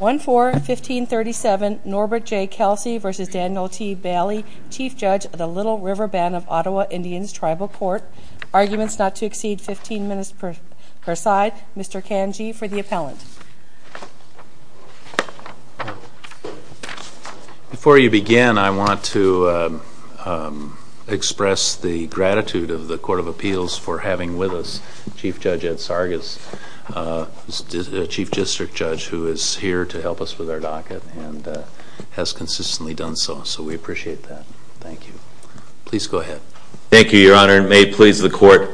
1-4-1537 Norbert J. Kelsey v. Daniel T. Bailey, Chief Judge of the Little River Band of Ottawa Indians Tribal Court. Arguments not to exceed 15 minutes per side. Mr. Kanji for the appellant. Before you begin, I want to express the gratitude of the Court of Appeals for having with us Chief Judge Ed Sargas, Chief District Judge, who is here to help us with our docket and has consistently done so, so we appreciate that. Thank you. Please go ahead. Thank you, Your Honor, and may it please the Court.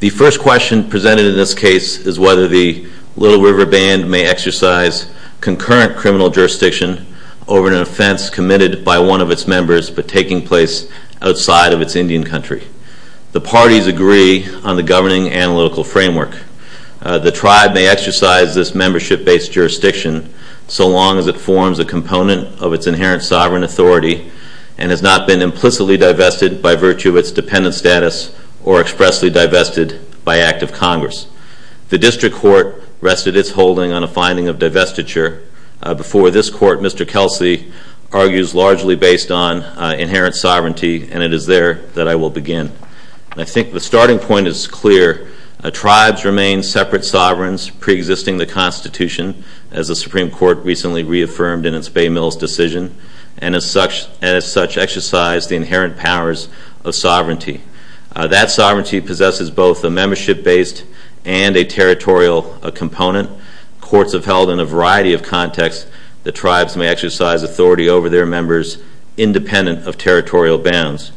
The first question presented in this case is whether the Little River Band may exercise concurrent criminal jurisdiction over an offense committed by one of its members but taking place outside of its Indian country. The parties agree on the governing analytical framework. The tribe may exercise this membership-based jurisdiction so long as it forms a component of its inherent sovereign authority and has not been implicitly divested by virtue of its dependent status or expressly divested by act of Congress. The District Court rested its holding on a finding of divestiture. Before this Court, Mr. Kelsey argues largely based on inherent sovereignty, and it is there that I will begin. I think the starting point is clear. Tribes remain separate sovereigns preexisting the Constitution, as the Supreme Court recently reaffirmed in its Bay Mills decision, and as such exercise the inherent powers of sovereignty. That sovereignty possesses both a membership-based and a territorial component. Courts have held in a variety of contexts that tribes may exercise authority over their members independent of territorial bounds,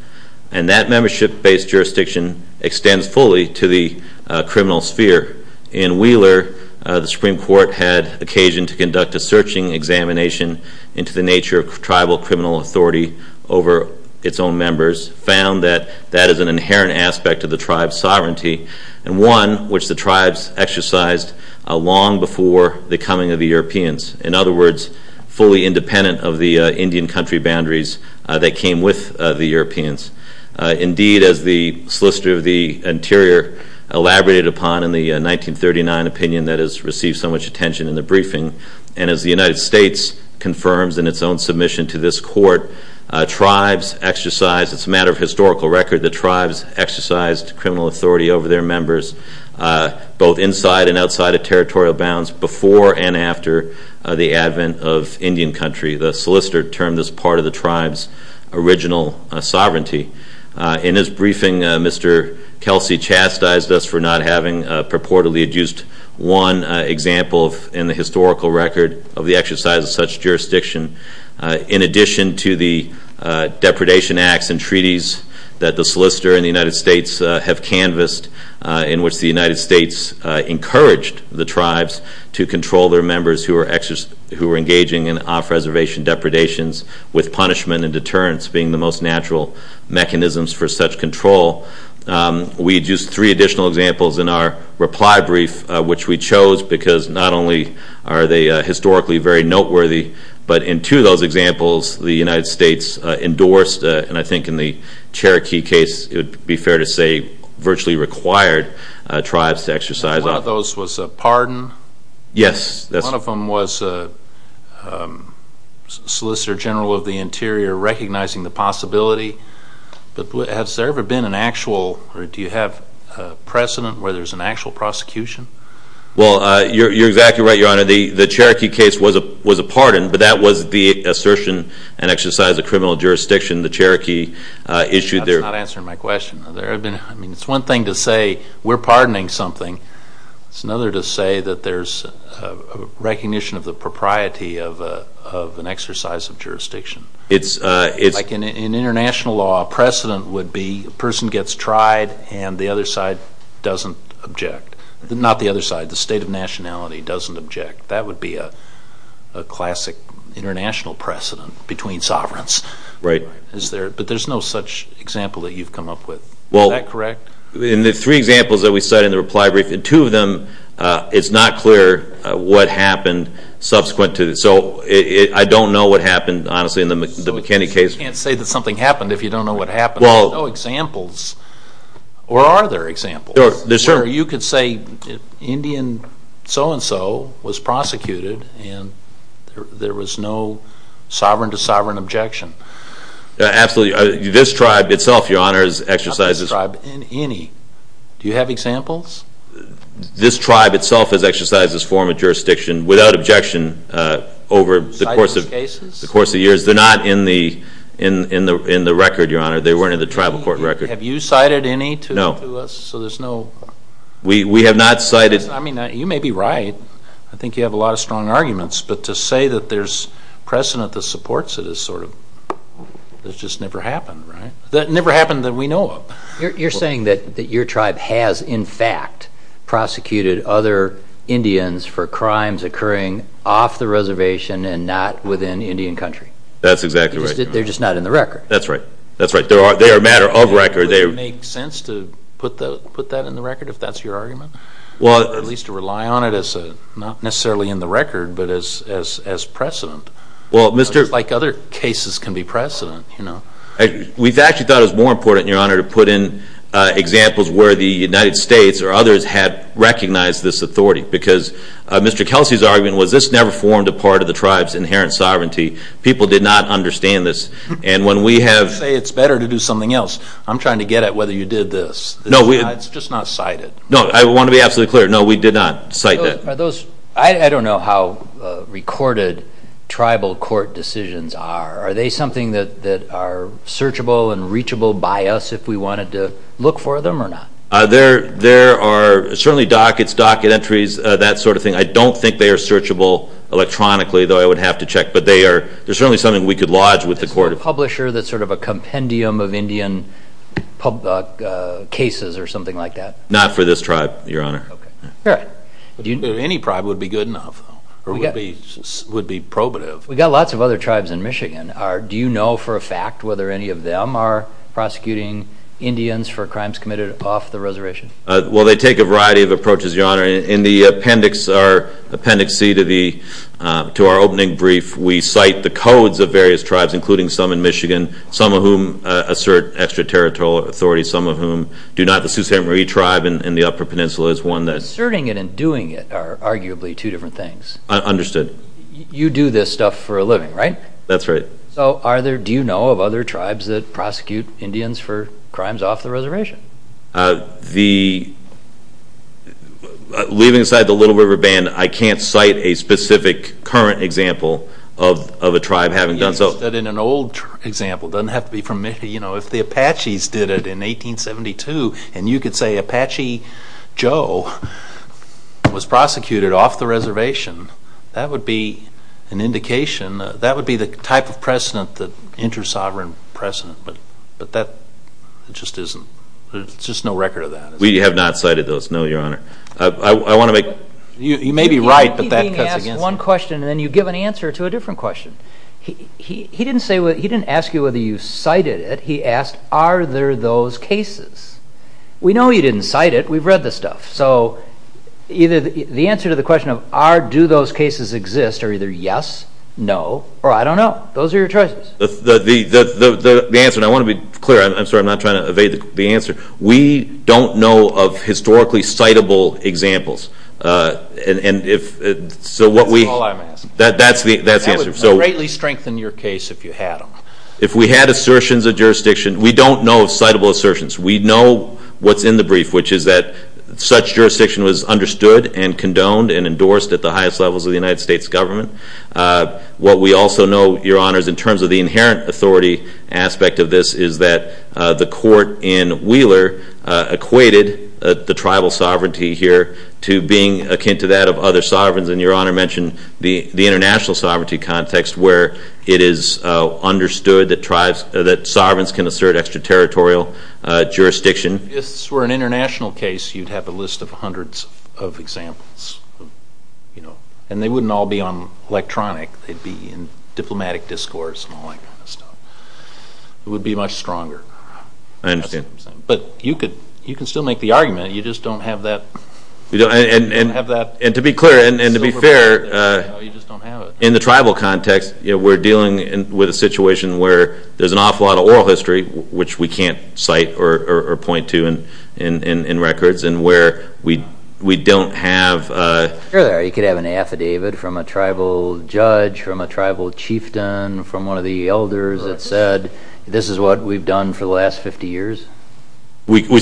and that membership-based jurisdiction extends fully to the criminal sphere. In Wheeler, the Supreme Court had occasion to conduct a searching examination into the nature of tribal criminal authority over its own members, found that that is an inherent aspect of the tribe's sovereignty, and one which the tribes exercised long before the coming of the Europeans. In other words, fully independent of the Indian country boundaries that came with the Europeans. Indeed, as the Solicitor of the Interior elaborated upon in the 1939 opinion that has received so much attention in the briefing, and as the United States confirms in its own submission to this Court, tribes exercise, it's a matter of historical record, the tribes exercised criminal authority over their members, both inside and outside of territorial bounds, before and after the advent of Indian country. The solicitor termed this part of the tribe's original sovereignty. In his briefing, Mr. Kelsey chastised us for not having purportedly used one example in the historical record of the exercise of such jurisdiction, in addition to the depredation acts and treaties that the solicitor and the United States have canvassed, in which the United States encouraged the tribes to control their members who were engaging in off-reservation depredations, with punishment and deterrence being the most natural mechanisms for such control. We used three additional examples in our reply brief, which we chose because not only are they historically very noteworthy, but in two of those examples, the United States endorsed, and I think in the Cherokee case, it would be fair to say, virtually required tribes to exercise... One of those was a pardon? Yes. One of them was a Solicitor General of the Interior recognizing the possibility, but has there ever been an actual, or do you have precedent where there's an actual prosecution? Well, you're exactly right, Your Honor. The Cherokee case was a pardon, but that was the assertion and exercise of criminal jurisdiction the Cherokee issued their... That's not answering my question. It's one thing to say, we're pardoning something. It's another to say that there's a recognition of the propriety of an exercise of jurisdiction. Like in international law, precedent would be a person gets tried and the other side doesn't object. Not the other side, the state of nationality doesn't object. That would be a classic international precedent between sovereigns. Right. But there's no such example that you've come up with. Well... Is that correct? In the three examples that we cite in the reply brief, in two of them, it's not clear what happened subsequent to it. So I don't know what happened, honestly, in the McKinney case. You can't say that something happened if you don't know what happened. Well... There's no examples. Or are there examples? Sure. Or you could say Indian so-and-so was prosecuted and there was no sovereign-to-sovereign objection. Absolutely. This tribe itself, Your Honor, has exercised... Not this tribe. Any. Do you have examples? This tribe itself has exercised this form of jurisdiction without objection over the course of years. Cited these cases? They're not in the record, Your Honor. They weren't in the tribal court record. Have you cited any to us? No. So there's no... We have not cited... I mean, you may be right. I think you have a lot of strong arguments. But to say that there's precedent that supports it is sort of, it's just never happened, right? It never happened that we know of. You're saying that your tribe has, in fact, prosecuted other Indians for crimes occurring off the reservation and not within Indian country. That's exactly right. They're just not in the record. That's right. That's right. They are a matter of record. Would it make sense to put that in the record, if that's your argument? Well... At least to rely on it as a, not necessarily in the record, but as precedent. Well, Mr... Just like other cases can be precedent, you know. We've actually thought it was more important, Your Honor, to put in examples where the United States or others had recognized this authority. Because Mr. Kelsey's argument was this never formed a part of the tribe's inherent sovereignty. People did not understand this. And when we have... You say it's better to do something else. I'm trying to get at whether you did this. No, we... It's just not cited. No, I want to be absolutely clear. No, we did not cite that. Are those... I don't know how recorded tribal court decisions are. Are they something that are searchable and reachable by us if we wanted to look for them or not? There are certainly dockets, docket entries, that sort of thing. I don't think they are searchable electronically, though I would have to check. But they are certainly something we could lodge with the court. Is there a publisher that's sort of a compendium of Indian cases or something like that? Not for this tribe, Your Honor. All right. Any tribe would be good enough. Or would be probative. We've got lots of other tribes in Michigan. Do you know for a fact whether any of them are prosecuting Indians for crimes committed off the reservation? Well, they take a variety of approaches, Your Honor. In the appendix, our appendix C to our opening brief, we cite the codes of various tribes, including some in Michigan, some of whom assert extraterritorial authority, some of whom do not. The Sault Ste. Marie tribe in the Upper Peninsula is one that... Asserting it and doing it are arguably two different things. Understood. You do this stuff for a living, right? That's right. So do you know of other tribes that prosecute Indians for crimes off the reservation? Leaving aside the Little River Band, I can't cite a specific current example of a tribe having done so. In an old example, it doesn't have to be from Michigan. You know, if the Apaches did it in 1872, and you could say Apache Joe was prosecuted off the reservation, that would be an indication, that would be the type of precedent, the inter-sovereign precedent. But that just isn't, there's just no record of that. We have not cited those, no, Your Honor. I want to make... You may be right, but that cuts against it. You keep being asked one question, and then you give an answer to a different question. He didn't ask you whether you cited it. He asked, are there those cases? We know you didn't cite it. We've read the stuff. So either the answer to the question of, do those cases exist, are either yes, no, or I don't know. Those are your choices. The answer, and I want to be clear, I'm sorry, I'm not trying to evade the answer. We don't know of historically citable examples. And if, so what we... That's all I'm asking. That's the answer. That would greatly strengthen your case if you had them. If we had assertions of jurisdiction, we don't know of citable assertions. We know what's in the brief, which is that such jurisdiction was understood and condoned and endorsed at the highest levels of the United States government. What we also know, Your Honors, in terms of the inherent authority aspect of this, is that the court in Wheeler equated the tribal sovereignty here to being akin to that of other sovereigns. And Your Honor mentioned the international sovereignty context where it is understood that sovereigns can assert extraterritorial jurisdiction. If this were an international case, you'd have a list of hundreds of examples. And they wouldn't all be on electronic. They'd be in diplomatic discourse and all that kind of stuff. It would be much stronger. I understand. But you can still make the argument. You just don't have that... And to be clear and to be fair, in the tribal context, we're dealing with a situation where there's an awful lot of oral history, which we can't cite or point to in records, and where we don't have... You could have an affidavit from a tribal judge, from a tribal chieftain, from one of the elders that said this is what we've done for the last 50 years. I'm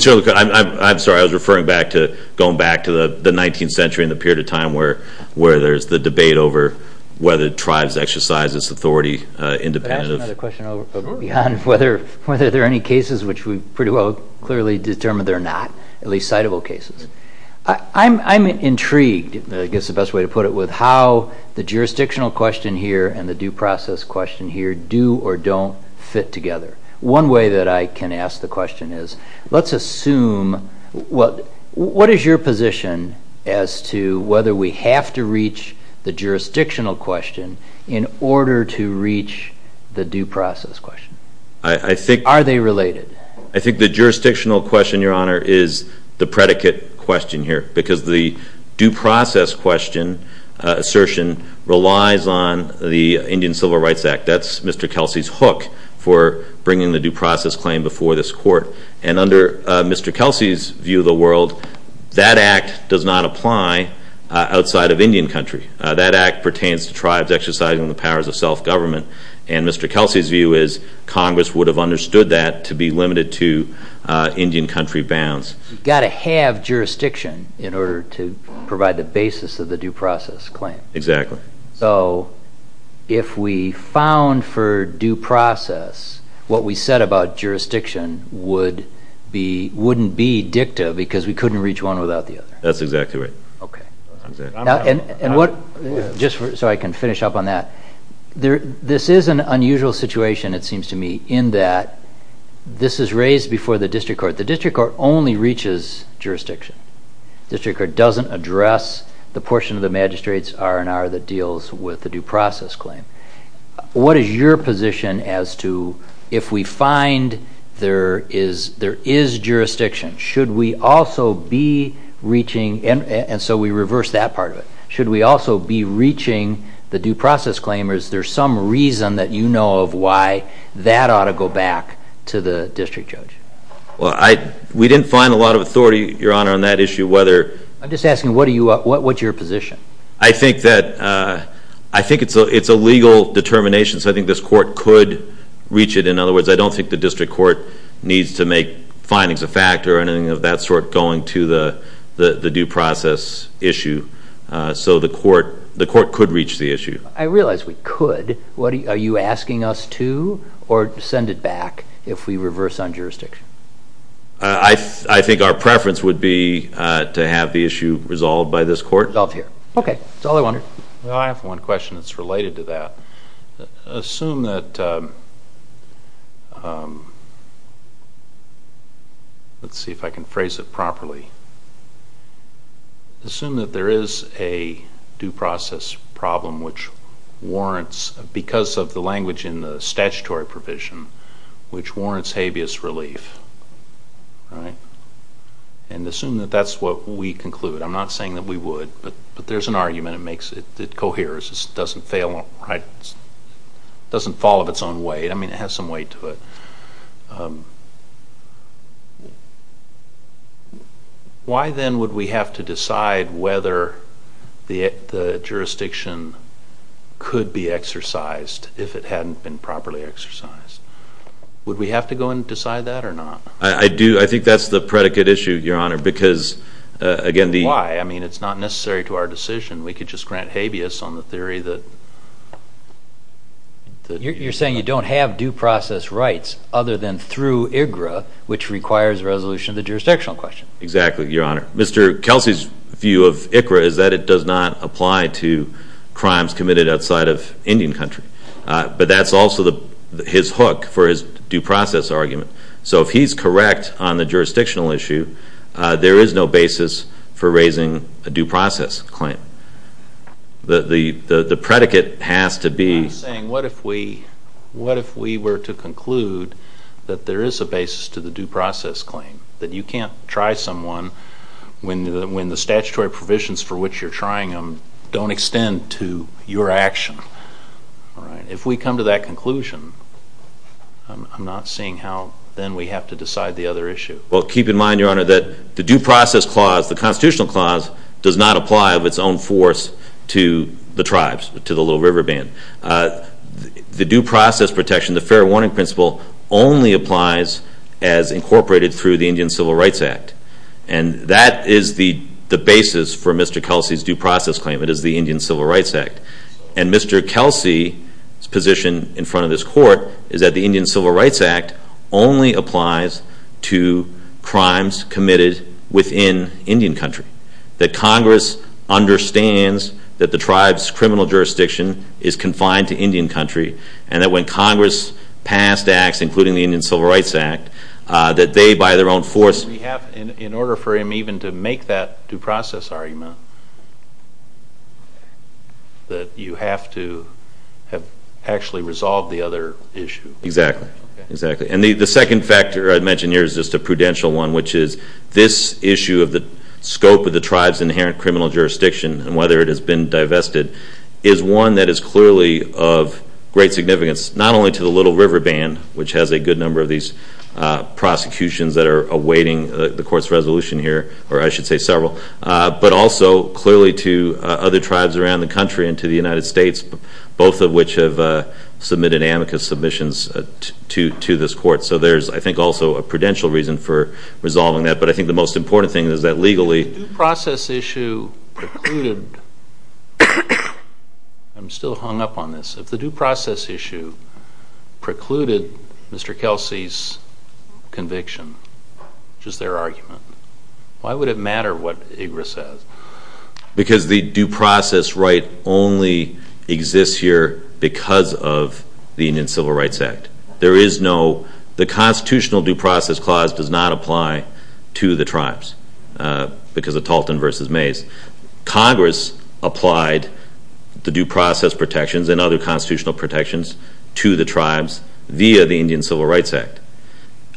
sorry. I was referring back to going back to the 19th century and the period of time where there's the debate over whether tribes exercise this authority independently. May I ask another question, Your Honor, whether there are any cases which we've pretty well clearly determined there are not, at least citable cases? I'm intrigued, I guess the best way to put it, with how the jurisdictional question here and the due process question here do or don't fit together. One way that I can ask the question is let's assume... What is your position as to whether we have to reach the jurisdictional question in order to reach the due process question? Are they related? I think the jurisdictional question, Your Honor, is the predicate question here because the due process question assertion relies on the Indian Civil Rights Act. That's Mr. Kelsey's hook for bringing the due process claim before this court. And under Mr. Kelsey's view of the world, that act does not apply outside of Indian country. That act pertains to tribes exercising the powers of self-government, and Mr. Kelsey's view is Congress would have understood that to be limited to Indian country bounds. You've got to have jurisdiction in order to provide the basis of the due process claim. Exactly. So if we found for due process what we said about jurisdiction wouldn't be dicta because we couldn't reach one without the other. That's exactly right. Just so I can finish up on that. This is an unusual situation, it seems to me, in that this is raised before the district court. The district court only reaches jurisdiction. The district court doesn't address the portion of the magistrate's R&R that deals with the due process claim. What is your position as to if we find there is jurisdiction, should we also be reaching, and so we reverse that part of it, should we also be reaching the due process claim or is there some reason that you know of why that ought to go back to the district judge? We didn't find a lot of authority, Your Honor, on that issue. I'm just asking, what's your position? I think it's a legal determination, so I think this court could reach it. In other words, I don't think the district court needs to make findings a fact or anything of that sort going to the due process issue. So the court could reach the issue. I realize we could. Are you asking us to or to send it back if we reverse on jurisdiction? I think our preference would be to have the issue resolved by this court. Resolved here. Okay. That's all I wanted. I have one question that's related to that. Assume that, let's see if I can phrase it properly. Assume that there is a due process problem which warrants, because of the language in the statutory provision, which warrants habeas relief, right? And assume that that's what we conclude. I'm not saying that we would, but there's an argument. It coheres. It doesn't fail, right? It doesn't fall of its own weight. I mean, it has some weight to it. Why then would we have to decide whether the jurisdiction could be exercised if it hadn't been properly exercised? Would we have to go and decide that or not? I do. I think that's the predicate issue, Your Honor, because, again, the Why? I mean, it's not necessary to our decision. We could just grant habeas on the theory that You're saying you don't have due process rights other than through IGRA, which requires a resolution of the jurisdictional question. Exactly, Your Honor. Mr. Kelsey's view of IGRA is that it does not apply to crimes committed outside of Indian country. But that's also his hook for his due process argument. So if he's correct on the jurisdictional issue, there is no basis for raising a due process claim. The predicate has to be I'm saying what if we were to conclude that there is a basis to the due process claim, that you can't try someone when the statutory provisions for which you're trying them don't extend to your action. If we come to that conclusion, I'm not seeing how then we have to decide the other issue. Well, keep in mind, Your Honor, that the due process clause, the constitutional clause, does not apply of its own force to the tribes, to the Little River Band. The due process protection, the fair warning principle, only applies as incorporated through the Indian Civil Rights Act. And that is the basis for Mr. Kelsey's due process claim. It is the Indian Civil Rights Act. And Mr. Kelsey's position in front of this court is that the Indian Civil Rights Act only applies to crimes committed within Indian country, that Congress understands that the tribe's criminal jurisdiction is confined to Indian country, and that when Congress passed acts, including the Indian Civil Rights Act, that they, by their own force... In order for him even to make that due process argument, that you have to have actually resolved the other issue. Exactly. And the second factor I mentioned here is just a prudential one, which is this issue of the scope of the tribe's inherent criminal jurisdiction and whether it has been divested is one that is clearly of great significance, not only to the Little River Band, which has a good number of these prosecutions that are awaiting the court's resolution here, or I should say several, but also clearly to other tribes around the country and to the United States, both of which have submitted amicus submissions to this court. So there's, I think, also a prudential reason for resolving that. But I think the most important thing is that legally... If the due process issue precluded... I'm still hung up on this. If the due process issue precluded Mr. Kelsey's conviction, which is their argument, why would it matter what IGRA says? Because the due process right only exists here because of the Indian Civil Rights Act. There is no... The Constitutional Due Process Clause does not apply to the tribes because of Talton v. Mays. Congress applied the due process protections and other constitutional protections to the tribes via the Indian Civil Rights Act.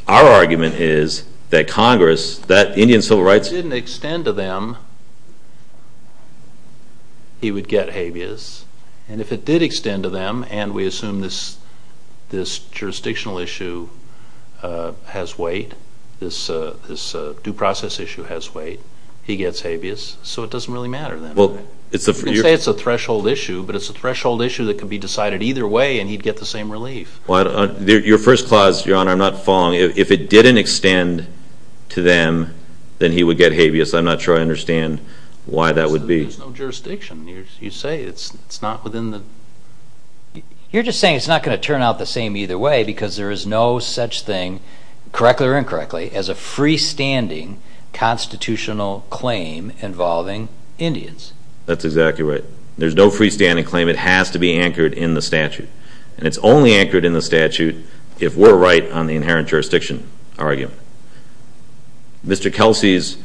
Our argument is that Congress, that Indian Civil Rights... If it didn't extend to them, he would get habeas. And if it did extend to them, and we assume this jurisdictional issue has weight, this due process issue has weight, he gets habeas, so it doesn't really matter then. You can say it's a threshold issue, but it's a threshold issue that could be decided either way and he'd get the same relief. Your first clause, Your Honor, I'm not following. If it didn't extend to them, then he would get habeas. I'm not sure I understand why that would be. There's no jurisdiction. You say it's not within the... You're just saying it's not going to turn out the same either way because there is no such thing, correctly or incorrectly, as a freestanding constitutional claim involving Indians. That's exactly right. There's no freestanding claim. It has to be anchored in the statute. And it's only anchored in the statute if we're right on the inherent jurisdiction argument. Mr. Kelsey's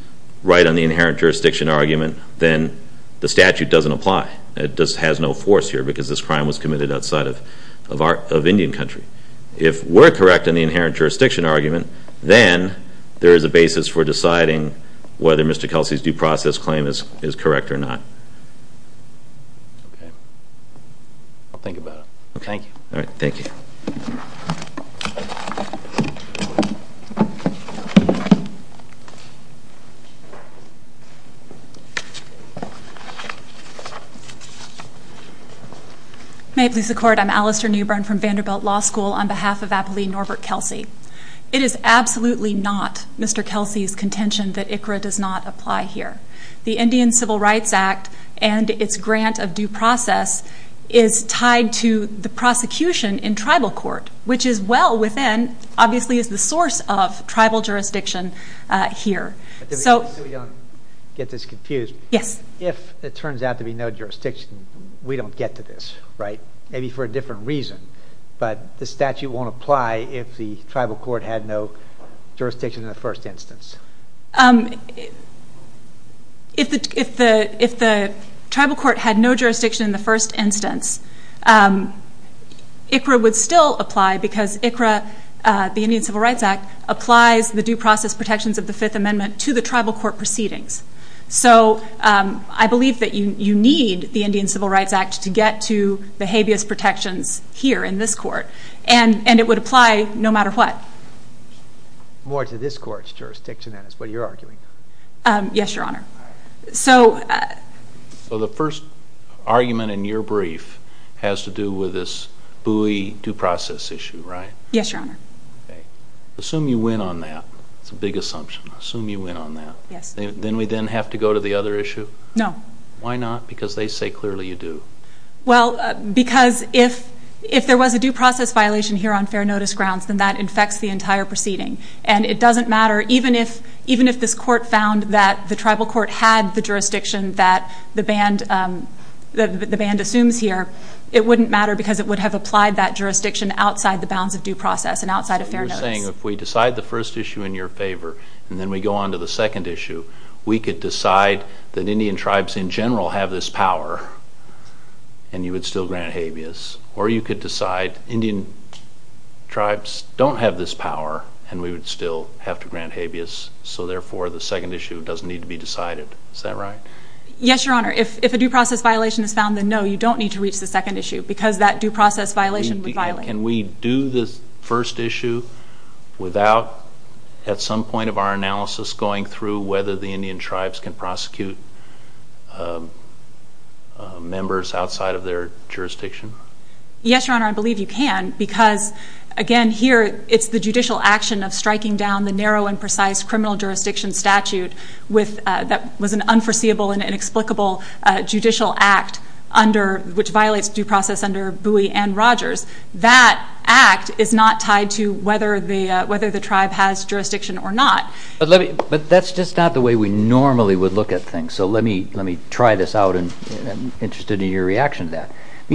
right on the inherent jurisdiction argument, then the statute doesn't apply. It just has no force here because this crime was committed outside of Indian country. If we're correct in the inherent jurisdiction argument, then there is a basis for deciding whether Mr. Kelsey's due process claim is correct or not. Okay. I'll think about it. Thank you. All right. Thank you. May it please the Court. I'm Alistair Newbern from Vanderbilt Law School on behalf of Appleen Norbert Kelsey. It is absolutely not Mr. Kelsey's contention that ICRA does not apply here. The Indian Civil Rights Act and its grant of due process is tied to the prosecution in tribal court, which is well within, obviously is the source of tribal jurisdiction here. So we don't get this confused. Yes. If it turns out to be no jurisdiction, we don't get to this, right? Maybe for a different reason, but the statute won't apply if the tribal court had no jurisdiction in the first instance. If the tribal court had no jurisdiction in the first instance, ICRA would still apply because ICRA, the Indian Civil Rights Act, applies the due process protections of the Fifth Amendment to the tribal court proceedings. So I believe that you need the Indian Civil Rights Act to get to behaviorist protections here in this court, and it would apply no matter what. More to this court's jurisdiction, then, is what you're arguing. Yes, Your Honor. So the first argument in your brief has to do with this buoy due process issue, right? Yes, Your Honor. Okay. Assume you win on that. It's a big assumption. Assume you win on that. Yes. Then we then have to go to the other issue? No. Why not? Because they say clearly you do. Well, because if there was a due process violation here on fair notice grounds, then that infects the entire proceeding. And it doesn't matter, even if this court found that the tribal court had the jurisdiction that the band assumes here, it wouldn't matter because it would have applied that jurisdiction outside the bounds of due process and outside of fair notice. So you're saying if we decide the first issue in your favor and then we go on to the second issue, we could decide that Indian tribes in general have this power and you would still grant habeas. Or you could decide Indian tribes don't have this power and we would still have to grant habeas, so therefore the second issue doesn't need to be decided. Is that right? Yes, Your Honor. If a due process violation is found, because that due process violation would violate it. Can we do this first issue without at some point of our analysis going through whether the Indian tribes can prosecute members outside of their jurisdiction? Yes, Your Honor, I believe you can because again here it's the judicial action of striking down the narrow and precise criminal jurisdiction statute that was an unforeseeable and inexplicable judicial act which violates due process under Bowie and Rogers. That act is not tied to whether the tribe has jurisdiction or not. But that's just not the way we normally would look at things, so let me try this out and I'm interested in your reaction to that.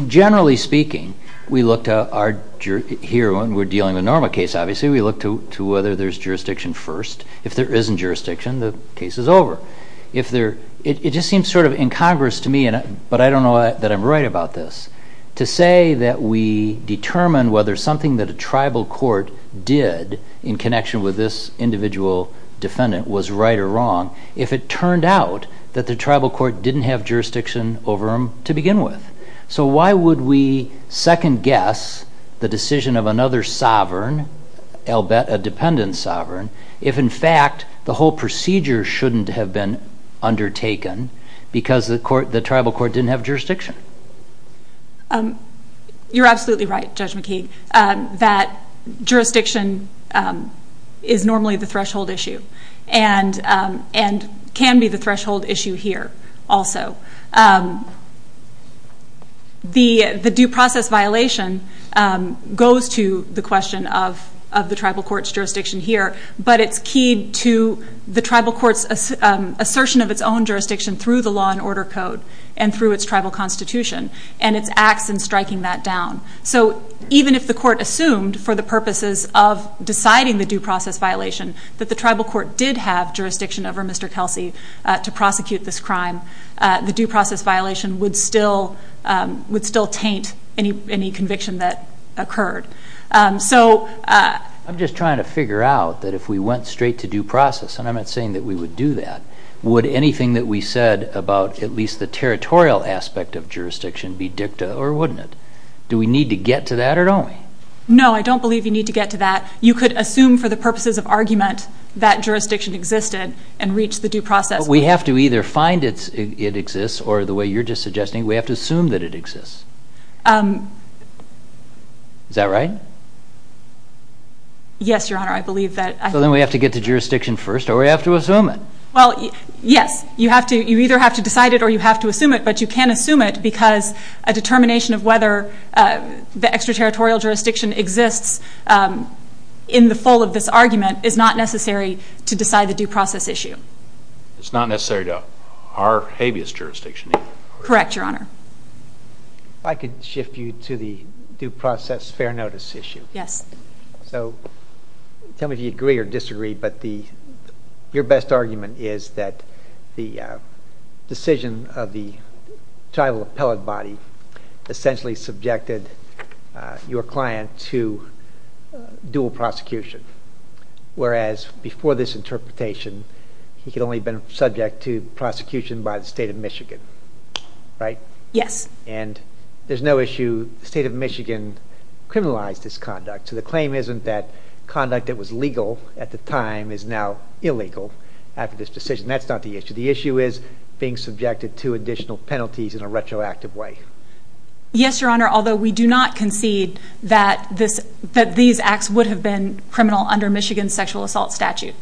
Generally speaking, we look to our, here when we're dealing with a normal case obviously, we look to whether there's jurisdiction first. If there isn't jurisdiction, the case is over. It just seems sort of incongruous to me, but I don't know that I'm right about this, to say that we determine whether something that a tribal court did in connection with this individual defendant was right or wrong if it turned out that the tribal court didn't have jurisdiction over him to begin with. So why would we second guess the decision of another sovereign, I'll bet a dependent sovereign, if in fact the whole procedure shouldn't have been undertaken because the tribal court didn't have jurisdiction? You're absolutely right, Judge McKeague, that jurisdiction is normally the threshold issue and can be the threshold issue here also. The due process violation goes to the question of the tribal court's jurisdiction here, but it's key to the tribal court's assertion of its own jurisdiction through the law and order code and through its tribal constitution and its acts in striking that down. So even if the court assumed, for the purposes of deciding the due process violation, that the tribal court did have jurisdiction over Mr. Kelsey to prosecute this crime, the due process violation would still taint any conviction that occurred. I'm just trying to figure out that if we went straight to due process, and I'm not saying that we would do that, would anything that we said about at least the territorial aspect of jurisdiction be dicta or wouldn't it? Do we need to get to that or don't we? No, I don't believe you need to get to that. You could assume for the purposes of argument that jurisdiction existed and reach the due process. But we have to either find it exists or the way you're just suggesting, we have to assume that it exists. Is that right? Yes, Your Honor, I believe that. So then we have to get to jurisdiction first or we have to assume it. Well, yes, you either have to decide it or you have to assume it, but you can assume it because a determination of whether the extraterritorial jurisdiction exists in the full of this argument is not necessary to decide the due process issue. It's not necessary to our habeas jurisdiction either. Correct, Your Honor. If I could shift you to the due process fair notice issue. Yes. So tell me if you agree or disagree, but your best argument is that the decision of the tribal appellate body essentially subjected your client to dual prosecution. Whereas before this interpretation, he could only have been subject to prosecution by the state of Michigan, right? Yes. And there's no issue, the state of Michigan criminalized this conduct. So the claim isn't that conduct that was legal at the time is now illegal after this decision. That's not the issue. The issue is being subjected to additional penalties in a retroactive way. Yes, Your Honor. Although we do not concede that these acts would have been criminal under Michigan's sexual assault statute.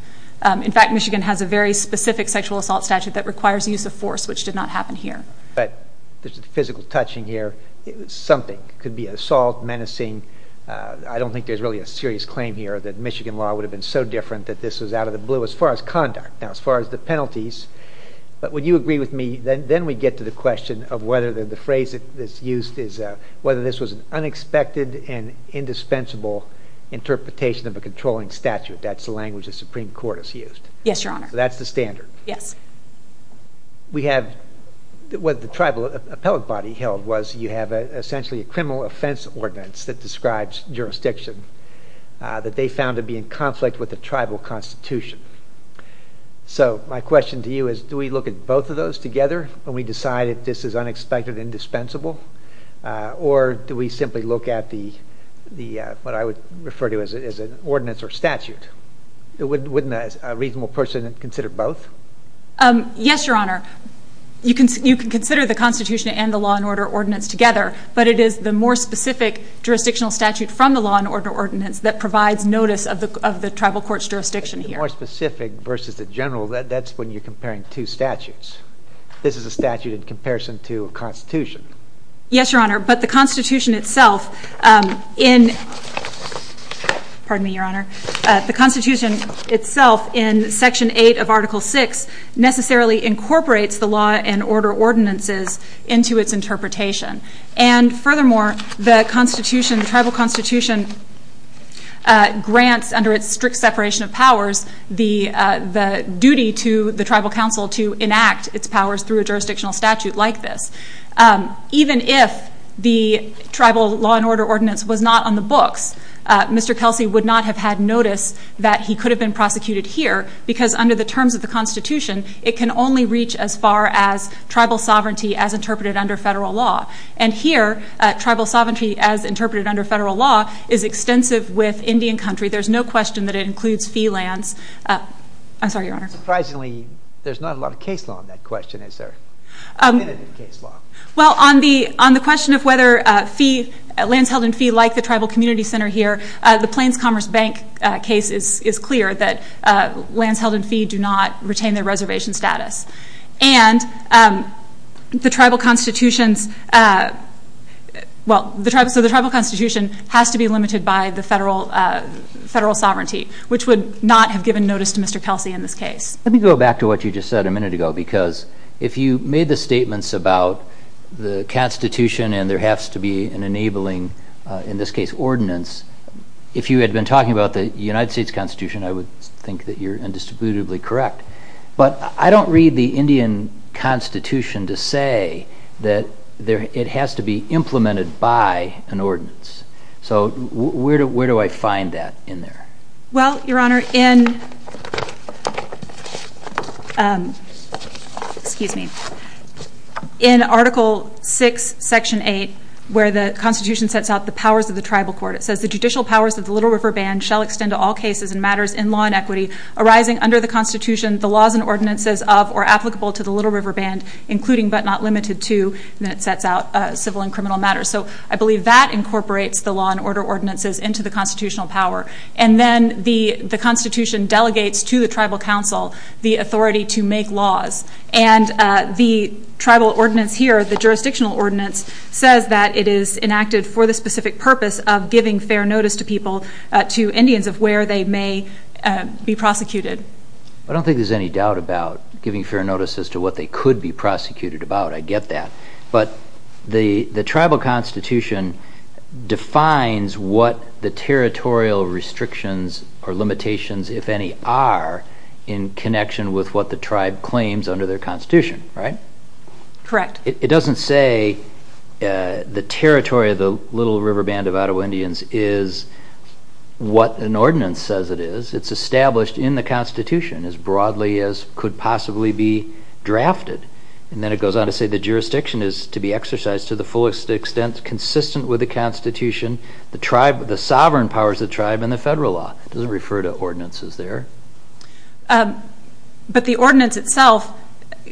In fact, Michigan has a very specific sexual assault statute that requires use of force, which did not happen here. But there's a physical touching here. Something could be assault, menacing. I don't think there's really a serious claim here that Michigan law would have been so different that this was out of the blue as far as conduct. Now, as far as the penalties, but would you agree with me, then we get to the question of whether the phrase that's used is whether this was an unexpected and indispensable interpretation of a controlling statute. That's the language the Supreme Court has used. Yes, Your Honor. So that's the standard. Yes. We have what the tribal appellate body held was you have essentially a criminal offense ordinance that describes jurisdiction that they found to be in conflict with the tribal constitution. So my question to you is do we look at both of those together when we decide that this is unexpected and indispensable? Or do we simply look at what I would refer to as an ordinance or statute? Wouldn't a reasonable person consider both? Yes, Your Honor. You can consider the constitution and the law and order ordinance together, but it is the more specific jurisdictional statute from the law and order ordinance that provides notice of the tribal court's jurisdiction here. The more specific versus the general, that's when you're comparing two statutes. This is a statute in comparison to a constitution. Yes, Your Honor. But the constitution itself in... Pardon me, Your Honor. The constitution itself in Section 8 of Article 6 necessarily incorporates the law and order ordinances into its interpretation. And furthermore, the constitution, the tribal constitution grants under its strict separation of powers the duty to the tribal council to enact its powers through a jurisdictional statute like this. Even if the tribal law and order ordinance was not on the books, Mr. Kelsey would not have had notice that he could have been prosecuted here because under the terms of the constitution it can only reach as far as tribal sovereignty as interpreted under federal law. And here, tribal sovereignty as interpreted under federal law is extensive with Indian country. There's no question that it includes fee lands. I'm sorry, Your Honor. Surprisingly, there's not a lot of case law on that question. Is there? Well, on the question of whether lands held in fee like the tribal community center here, the Plains Commerce Bank case is clear that lands held in fee do not retain their reservation status. And the tribal constitution has to be limited by the federal sovereignty, which would not have given notice to Mr. Kelsey in this case. Let me go back to what you just said a minute ago because if you made the statements about the constitution and there has to be an enabling, in this case, ordinance, if you had been talking about the United States Constitution, I would think that you're indisputably correct. But I don't read the Indian constitution to say that it has to be implemented by an ordinance. So where do I find that in there? Well, Your Honor, in Article 6, Section 8, where the constitution sets out the powers of the tribal court, it says the judicial powers of the Little River Band shall extend to all cases and matters in law and equity arising under the constitution, the laws and ordinances of or applicable to the Little River Band, including but not limited to, and then it sets out civil and criminal matters. So I believe that incorporates the law and order ordinances into the constitutional power. And then the constitution delegates to the tribal council the authority to make laws. And the tribal ordinance here, the jurisdictional ordinance, says that it is enacted for the specific purpose of giving fair notice to people, to Indians, in terms of where they may be prosecuted. I don't think there's any doubt about giving fair notice as to what they could be prosecuted about. I get that. But the tribal constitution defines what the territorial restrictions or limitations, if any, are in connection with what the tribe claims under their constitution, right? Correct. It doesn't say the territory of the Little River Band of Ottawa Indians is what an ordinance says it is. It's established in the constitution as broadly as could possibly be drafted. And then it goes on to say the jurisdiction is to be exercised to the fullest extent consistent with the constitution, the sovereign powers of the tribe, and the federal law. It doesn't refer to ordinances there. But the ordinance itself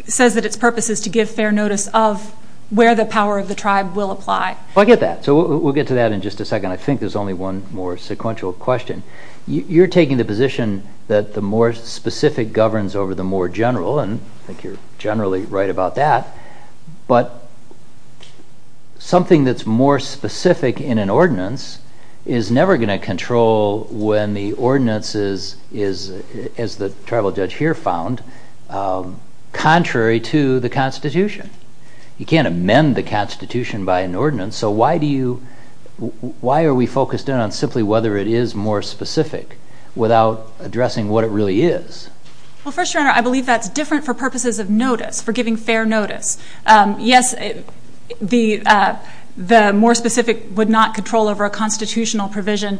says that its purpose is to give fair notice of where the power of the tribe will apply. I get that. So we'll get to that in just a second. I think there's only one more sequential question. You're taking the position that the more specific governs over the more general, and I think you're generally right about that. But something that's more specific in an ordinance is never going to control when the ordinance is, as the tribal judge here found, contrary to the constitution. You can't amend the constitution by an ordinance. So why are we focused in on simply whether it is more specific without addressing what it really is? First, Your Honor, I believe that's different for purposes of notice, for giving fair notice. Yes, the more specific would not control over a constitutional provision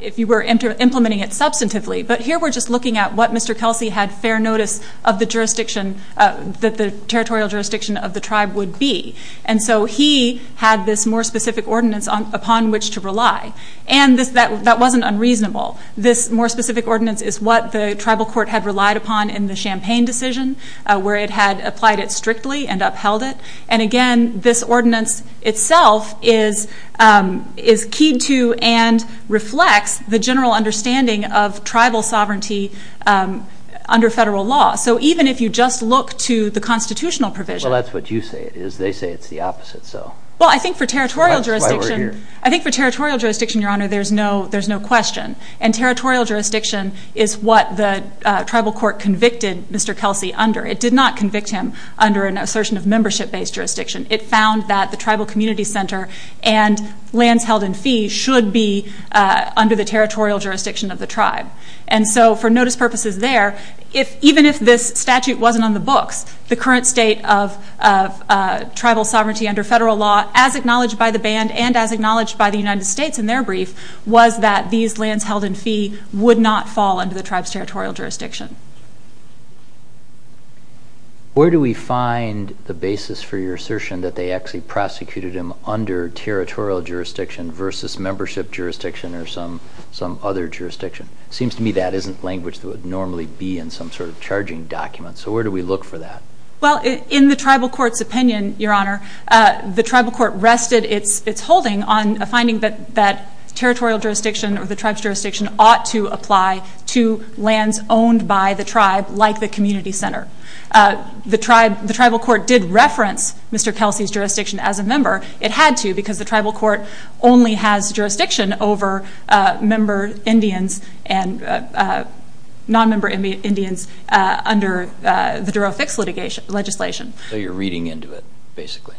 if you were implementing it substantively. But here we're just looking at what Mr. Kelsey had fair notice of the territorial jurisdiction of the tribe would be. And so he had this more specific ordinance upon which to rely. And that wasn't unreasonable. This more specific ordinance is what the tribal court had relied upon in the Champaign decision, where it had applied it strictly and upheld it. And, again, this ordinance itself is keyed to and reflects the general understanding of tribal sovereignty under federal law. So even if you just look to the constitutional provision. Well, that's what you say it is. They say it's the opposite. Well, I think for territorial jurisdiction, Your Honor, there's no question. And territorial jurisdiction is what the tribal court convicted Mr. Kelsey under. It did not convict him under an assertion of membership-based jurisdiction. It found that the tribal community center and lands held in fee should be under the territorial jurisdiction of the tribe. And so for notice purposes there, even if this statute wasn't on the books, the current state of tribal sovereignty under federal law, as acknowledged by the band and as acknowledged by the United States in their brief, was that these lands held in fee would not fall under the tribe's territorial jurisdiction. Where do we find the basis for your assertion that they actually prosecuted him under territorial jurisdiction versus membership jurisdiction or some other jurisdiction? It seems to me that isn't language that would normally be in some sort of charging document, so where do we look for that? Well, in the tribal court's opinion, Your Honor, the tribal court rested its holding on a finding that territorial jurisdiction or the tribe's jurisdiction ought to apply to lands owned by the tribe like the community center. The tribal court did reference Mr. Kelsey's jurisdiction as a member. It had to because the tribal court only has jurisdiction over member Indians and non-member Indians under the Daroe Fix legislation. So you're reading into it, basically.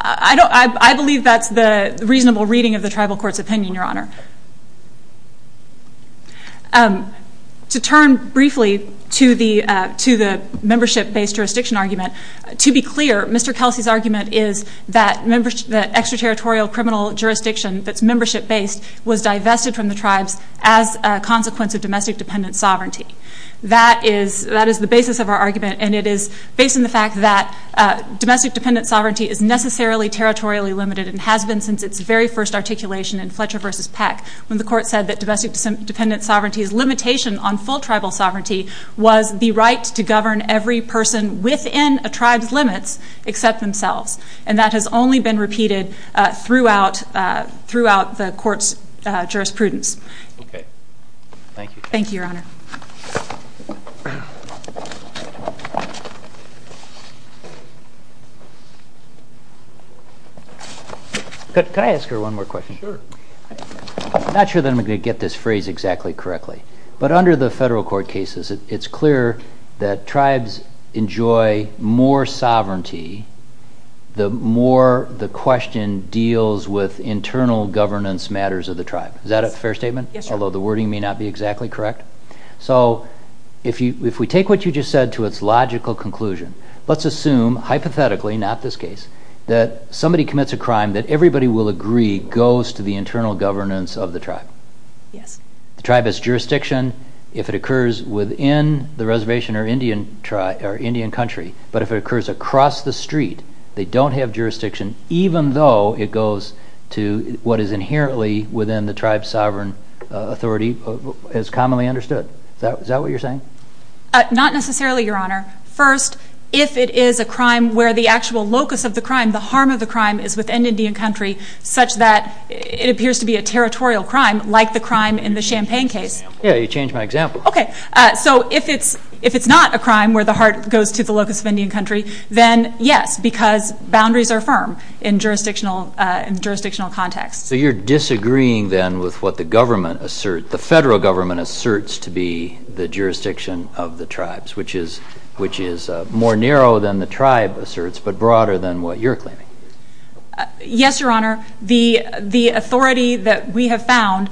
I believe that's the reasonable reading of the tribal court's opinion, Your Honor. To turn briefly to the membership-based jurisdiction argument, to be clear, Mr. Kelsey's argument is that extraterritorial criminal jurisdiction that's membership-based was divested from the tribes as a consequence of domestic-dependent sovereignty. That is the basis of our argument, and it is based on the fact that domestic-dependent sovereignty is necessarily territorially limited and has been since its very first articulation in Fletcher v. Peck when the court said that domestic-dependent sovereignty's limitation on full tribal sovereignty was the right to govern every person within a tribe's limits except themselves, and that has only been repeated throughout the court's jurisprudence. Okay. Thank you. Thank you, Your Honor. Could I ask her one more question? Sure. I'm not sure that I'm going to get this phrase exactly correctly, but under the federal court cases, it's clear that tribes enjoy more sovereignty the more the question deals with internal governance matters of the tribe. Is that a fair statement? Yes, Your Honor. Although the wording may not be exactly correct. So if we take what you just said to its logical conclusion, let's assume, hypothetically, not this case, that somebody commits a crime that everybody will agree goes to the internal governance of the tribe. Yes. The tribe has jurisdiction if it occurs within the reservation or Indian country, but if it occurs across the street, they don't have jurisdiction, even though it goes to what is inherently within the tribe's sovereign authority as commonly understood. Is that what you're saying? Not necessarily, Your Honor. First, if it is a crime where the actual locus of the crime, the harm of the crime, is within Indian country such that it appears to be a territorial crime like the crime in the Champaign case. Yeah, you changed my example. Okay. So if it's not a crime where the harm goes to the locus of Indian country, then yes, because boundaries are firm in jurisdictional context. So you're disagreeing then with what the government asserts, the federal government asserts to be the jurisdiction of the tribes, which is more narrow than the tribe asserts but broader than what you're claiming. Yes, Your Honor. The authority that we have found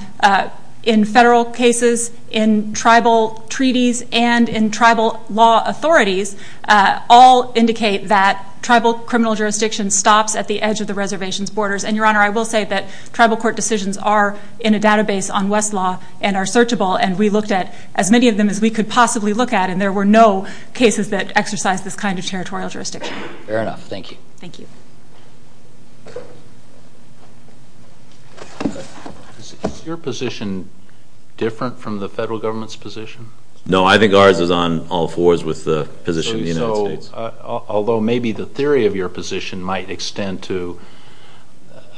in federal cases, in tribal treaties, and in tribal law authorities all indicate that tribal criminal jurisdiction stops at the edge of the reservation's borders. And, Your Honor, I will say that tribal court decisions are in a database on Westlaw and are searchable, and we looked at as many of them as we could possibly look at, and there were no cases that exercised this kind of territorial jurisdiction. Fair enough. Thank you. Thank you. Is your position different from the federal government's position? No. I think ours is on all fours with the position of the United States. So although maybe the theory of your position might extend to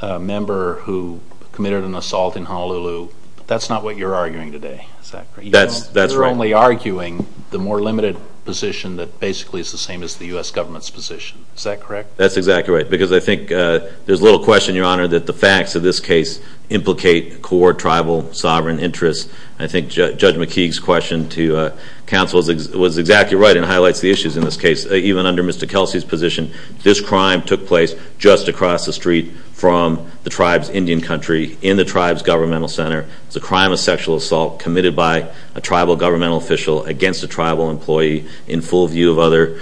a member who committed an assault in Honolulu, that's not what you're arguing today, is that correct? That's right. You're only arguing the more limited position that basically is the same as the U.S. government's position. Is that correct? That's exactly right. Because I think there's little question, Your Honor, that the facts of this case implicate core tribal sovereign interests. I think Judge McKeague's question to counsel was exactly right and highlights the issues in this case. Even under Mr. Kelsey's position, this crime took place just across the street from the tribe's Indian country in the tribe's governmental center. It's a crime of sexual assault committed by a tribal governmental official against a tribal employee in full view of other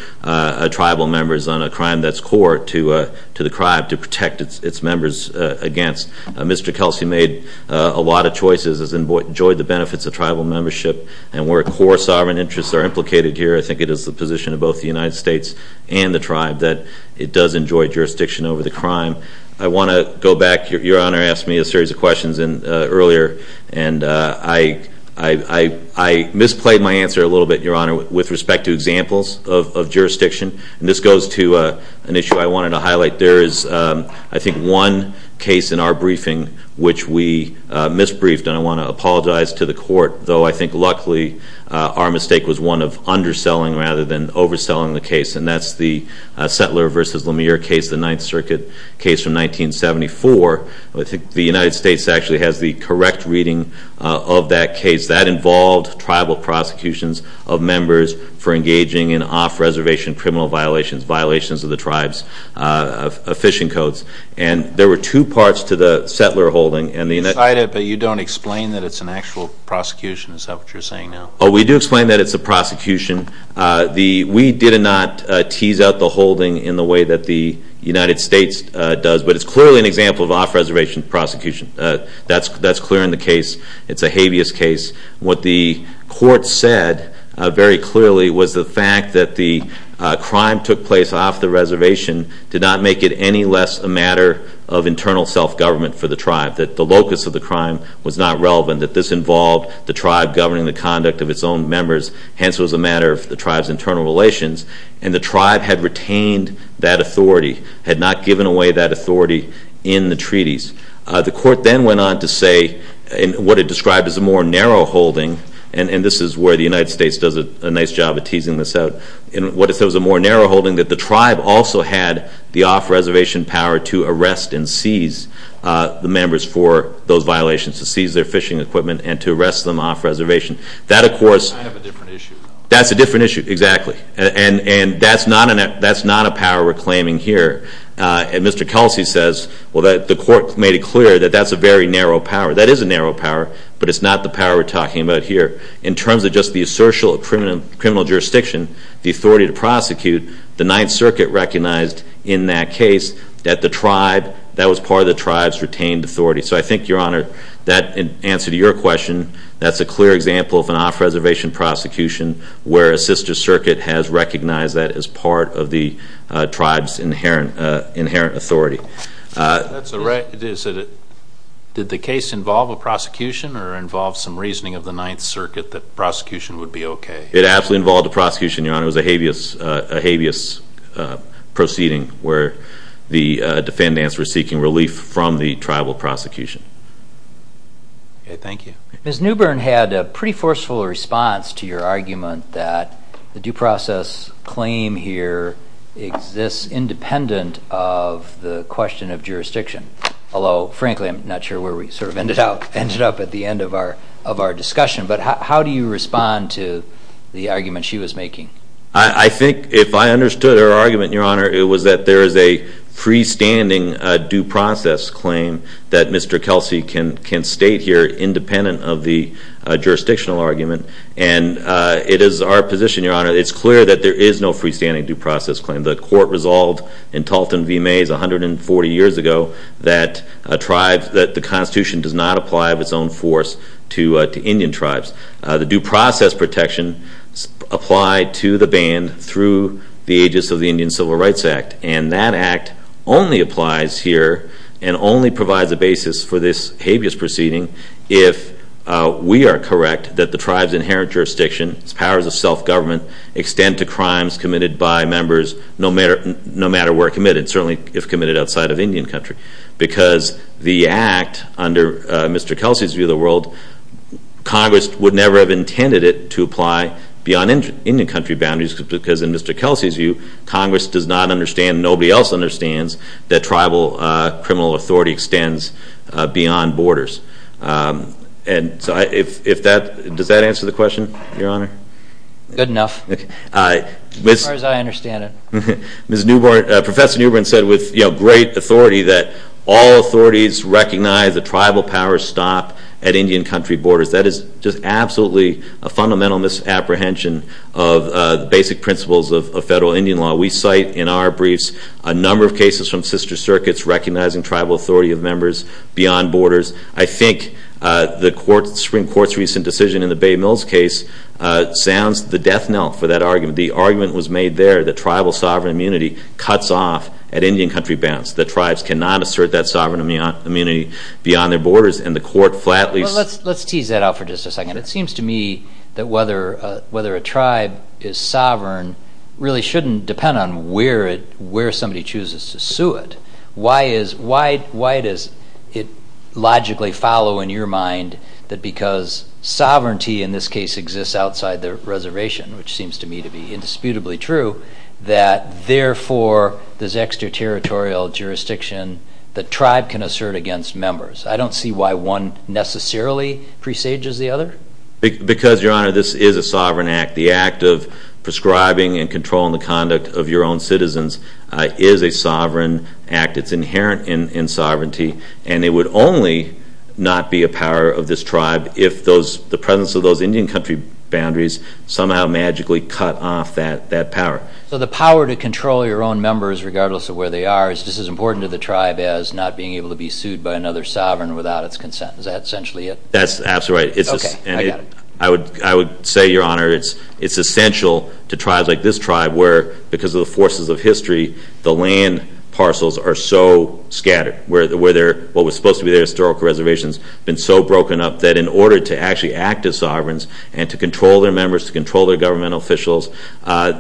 tribal members on a crime that's core to the tribe to protect its members against. Mr. Kelsey made a lot of choices, has enjoyed the benefits of tribal membership, and where core sovereign interests are implicated here, I think it is the position of both the United States and the tribe that it does enjoy jurisdiction over the crime. I want to go back. Your Honor asked me a series of questions earlier, and I misplayed my answer a little bit, Your Honor, with respect to examples of jurisdiction. This goes to an issue I wanted to highlight. There is, I think, one case in our briefing which we misbriefed, and I want to apologize to the court, though I think luckily our mistake was one of underselling rather than overselling the case, and that's the Settler v. Lemire case, the Ninth Circuit case from 1974. I think the United States actually has the correct reading of that case. That involved tribal prosecutions of members for engaging in off-reservation criminal violations, violations of the tribe's fishing codes, and there were two parts to the Settler holding. You cite it, but you don't explain that it's an actual prosecution, is that what you're saying now? Oh, we do explain that it's a prosecution. We did not tease out the holding in the way that the United States does, but it's clearly an example of off-reservation prosecution. That's clear in the case. It's a habeas case. What the court said very clearly was the fact that the crime took place off the reservation did not make it any less a matter of internal self-government for the tribe, that the locus of the crime was not relevant, that this involved the tribe governing the conduct of its own members, hence it was a matter of the tribe's internal relations, and the tribe had retained that authority, had not given away that authority in the treaties. The court then went on to say, in what it described as a more narrow holding, and this is where the United States does a nice job of teasing this out, in what it said was a more narrow holding, that the tribe also had the off-reservation power to arrest and seize the members for those violations, to seize their fishing equipment and to arrest them off-reservation. That, of course... Kind of a different issue. That's a different issue, exactly, and that's not a power we're claiming here. And Mr. Kelsey says, well, the court made it clear that that's a very narrow power. That is a narrow power, but it's not the power we're talking about here. In terms of just the assertion of criminal jurisdiction, the authority to prosecute, the Ninth Circuit recognized in that case that the tribe, that was part of the tribe's retained authority. So I think, Your Honor, that answer to your question, that's a clear example of an off-reservation prosecution where a sister circuit has recognized that as part of the tribe's inherent authority. Did the case involve a prosecution or involve some reasoning of the Ninth Circuit that prosecution would be okay? It absolutely involved a prosecution, Your Honor. It was a habeas proceeding where the defendants were seeking relief from the tribal prosecution. Okay, thank you. Ms. Newbern had a pretty forceful response to your argument that the due process claim here exists independent of the question of jurisdiction. Although, frankly, I'm not sure where we sort of ended up at the end of our discussion. But how do you respond to the argument she was making? I think if I understood her argument, Your Honor, it was that there is a freestanding due process claim that Mr. Kelsey can state here independent of the jurisdictional argument. And it is our position, Your Honor, it's clear that there is no freestanding due process claim. The court resolved in Talton v. Mays 140 years ago that the Constitution does not apply of its own force to Indian tribes. The due process protection applied to the band through the aegis of the Indian Civil Rights Act. And that act only applies here and only provides a basis for this habeas proceeding if we are correct that the tribe's inherent jurisdiction, its powers of self-government extend to crimes committed by members no matter where committed, certainly if committed outside of Indian country. Because the act under Mr. Kelsey's view of the world, Congress would never have intended it to apply beyond Indian country boundaries because in Mr. Kelsey's view, Congress does not understand, and nobody else understands, that tribal criminal authority extends beyond borders. Does that answer the question, Your Honor? Good enough, as far as I understand it. Professor Newbern said with great authority that all authorities recognize that tribal powers stop at Indian country borders. That is just absolutely a fundamental misapprehension of basic principles of federal Indian law. We cite in our briefs a number of cases from sister circuits recognizing tribal authority of members beyond borders. I think the Supreme Court's recent decision in the Bay Mills case sounds the death knell for that argument. The argument was made there that tribal sovereign immunity cuts off at Indian country bounds, that tribes cannot assert that sovereign immunity beyond their borders, and the court flatly says... Well, let's tease that out for just a second. It seems to me that whether a tribe is sovereign really shouldn't depend on where somebody chooses to sue it. Why does it logically follow, in your mind, that because sovereignty in this case exists outside the reservation, which seems to me to be indisputably true, that therefore this extraterritorial jurisdiction, the tribe can assert against members. I don't see why one necessarily presages the other. Because, Your Honor, this is a sovereign act. The act of prescribing and controlling the conduct of your own citizens is a sovereign act. It's inherent in sovereignty. And it would only not be a power of this tribe if the presence of those Indian country boundaries somehow magically cut off that power. So the power to control your own members regardless of where they are is just as important to the tribe as not being able to be sued by another sovereign without its consent. Is that essentially it? That's absolutely right. Okay, I got it. I would say, Your Honor, it's essential to tribes like this tribe where, because of the forces of history, the land parcels are so scattered, where what was supposed to be their historical reservations have been so broken up that in order to actually act as sovereigns and to control their members, to control their governmental officials,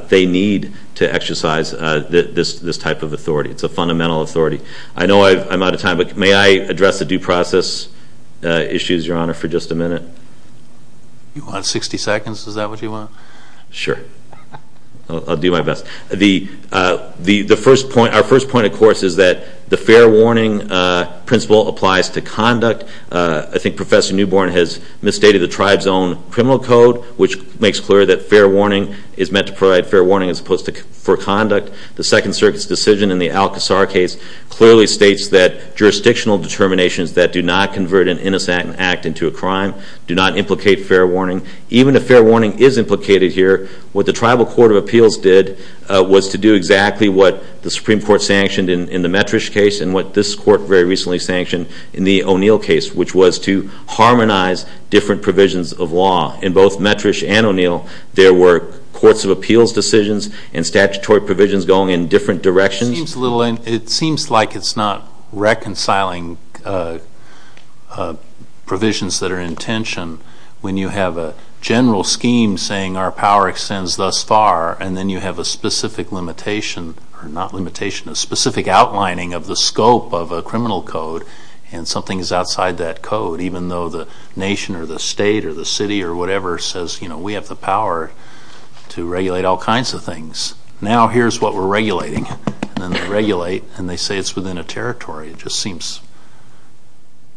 they need to exercise this type of authority. It's a fundamental authority. I know I'm out of time, but may I address the due process issues, Your Honor, for just a minute? You want 60 seconds? Is that what you want? Sure. I'll do my best. Our first point, of course, is that the fair warning principle applies to conduct. I think Professor Newborn has misstated the tribe's own criminal code, which makes clear that fair warning is meant to provide fair warning as opposed to for conduct. The Second Circuit's decision in the Al-Qasar case clearly states that jurisdictional determinations that do not convert an innocent act into a crime do not implicate fair warning. Even if fair warning is implicated here, what the Tribal Court of Appeals did was to do exactly what the Supreme Court sanctioned in the Metrish case and what this court very recently sanctioned in the O'Neill case, which was to harmonize different provisions of law. In both Metrish and O'Neill, there were courts of appeals decisions and statutory provisions going in different directions. It seems like it's not reconciling provisions that are in tension when you have a general scheme saying our power extends thus far and then you have a specific limitation, or not limitation, a specific outlining of the scope of a criminal code and something is outside that code, even though the nation or the state or the city or whatever says, you know, we have the power to regulate all kinds of things. Now here's what we're regulating, and then they regulate and they say it's within a territory. It just seems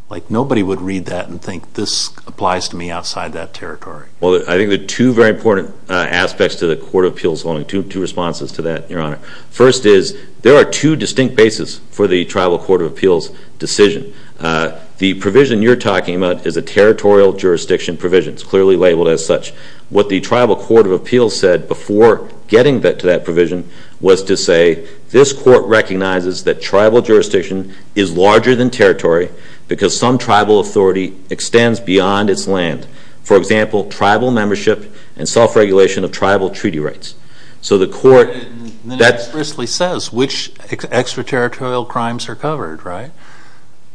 like nobody would read that and think this applies to me outside that territory. Well, I think there are two very important aspects to the court of appeals, two responses to that, Your Honor. First is there are two distinct bases for the Tribal Court of Appeals decision. The provision you're talking about is a territorial jurisdiction provision. It's clearly labeled as such. What the Tribal Court of Appeals said before getting to that provision was to say, this court recognizes that tribal jurisdiction is larger than territory because some tribal authority extends beyond its land. For example, tribal membership and self-regulation of tribal treaty rights. And then it explicitly says which extraterritorial crimes are covered, right?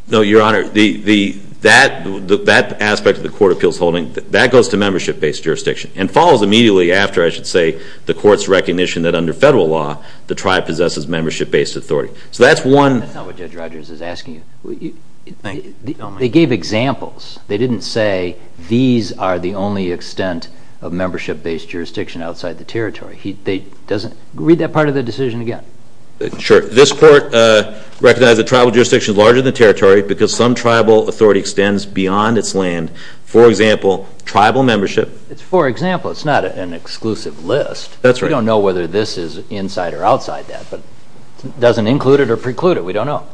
No, Your Honor. That aspect of the court of appeals holding, that goes to membership-based jurisdiction and follows immediately after, I should say, the court's recognition that under federal law, the tribe possesses membership-based authority. So that's one. That's not what Judge Rogers is asking. They gave examples. Read that part of the decision again. Sure. This court recognizes that tribal jurisdiction is larger than territory because some tribal authority extends beyond its land. For example, tribal membership. It's for example. It's not an exclusive list. That's right. We don't know whether this is inside or outside that. It doesn't include it or preclude it. We don't know.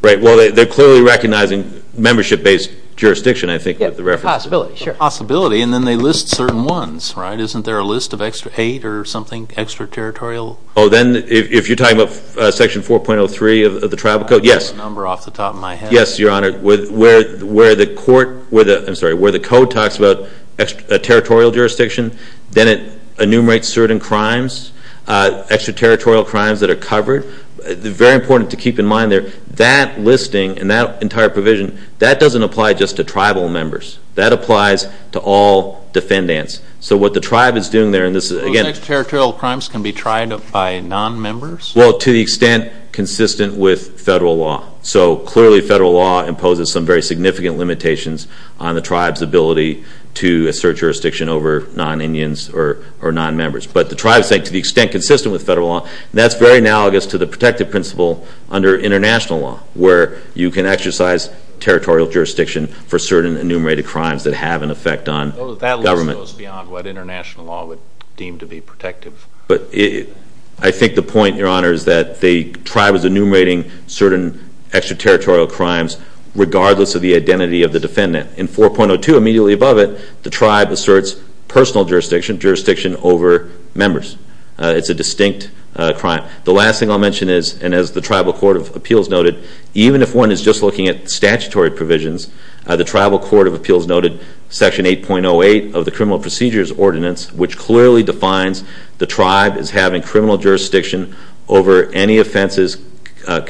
Right. Well, they're clearly recognizing membership-based jurisdiction, I think, with the reference. Possibility, sure. Possibility, and then they list certain ones, right? Isn't there a list of eight or something extraterritorial? Oh, then if you're talking about Section 4.03 of the Tribal Code, yes. Number off the top of my head. Yes, Your Honor. Where the code talks about a territorial jurisdiction, then it enumerates certain crimes, extraterritorial crimes that are covered. Very important to keep in mind there, that listing and that entire provision, that doesn't apply just to tribal members. That applies to all defendants. So what the tribe is doing there, and this is, again. Extraterritorial crimes can be tried by non-members? Well, to the extent consistent with federal law. So clearly federal law imposes some very significant limitations on the tribe's ability to assert jurisdiction over non-Indians or non-members. But the tribe, to the extent consistent with federal law, that's very analogous to the protective principle under international law where you can exercise territorial jurisdiction for certain enumerated crimes that have an effect on government. So that list goes beyond what international law would deem to be protective. But I think the point, Your Honor, is that the tribe is enumerating certain extraterritorial crimes, regardless of the identity of the defendant. In 4.02, immediately above it, the tribe asserts personal jurisdiction, jurisdiction over members. It's a distinct crime. The last thing I'll mention is, and as the Tribal Court of Appeals noted, even if one is just looking at statutory provisions, the Tribal Court of Appeals noted Section 8.08 of the Criminal Procedures Ordinance, which clearly defines the tribe as having criminal jurisdiction over any offenses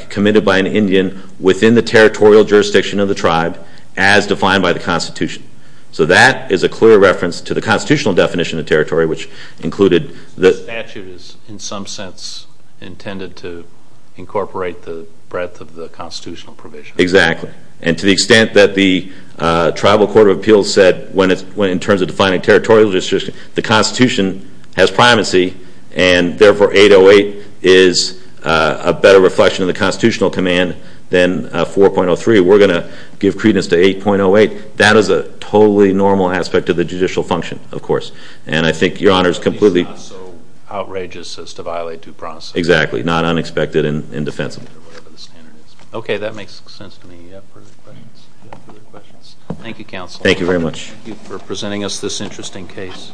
committed by an Indian within the territorial jurisdiction of the tribe, as defined by the Constitution. So that is a clear reference to the constitutional definition of territory, which included... The statute is, in some sense, intended to incorporate the breadth of the constitutional provision. Exactly. And to the extent that the Tribal Court of Appeals said, in terms of defining territorial jurisdiction, the Constitution has primacy, and therefore 8.08 is a better reflection of the constitutional command than 4.03. We're going to give credence to 8.08. That is a totally normal aspect of the judicial function, of course. And I think Your Honor is completely... It's not so outrageous as to violate due process. Exactly. Not unexpected and indefensible. Okay. That makes sense to me. Thank you, Counsel. Thank you very much. Thank you for presenting us this interesting case.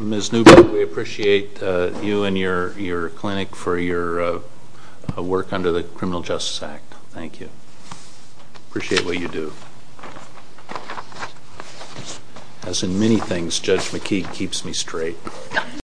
Ms. Newberg, we appreciate you and your clinic for your work under the Criminal Justice Act. Thank you. We appreciate what you do. As in many things, Judge McKee keeps me straight.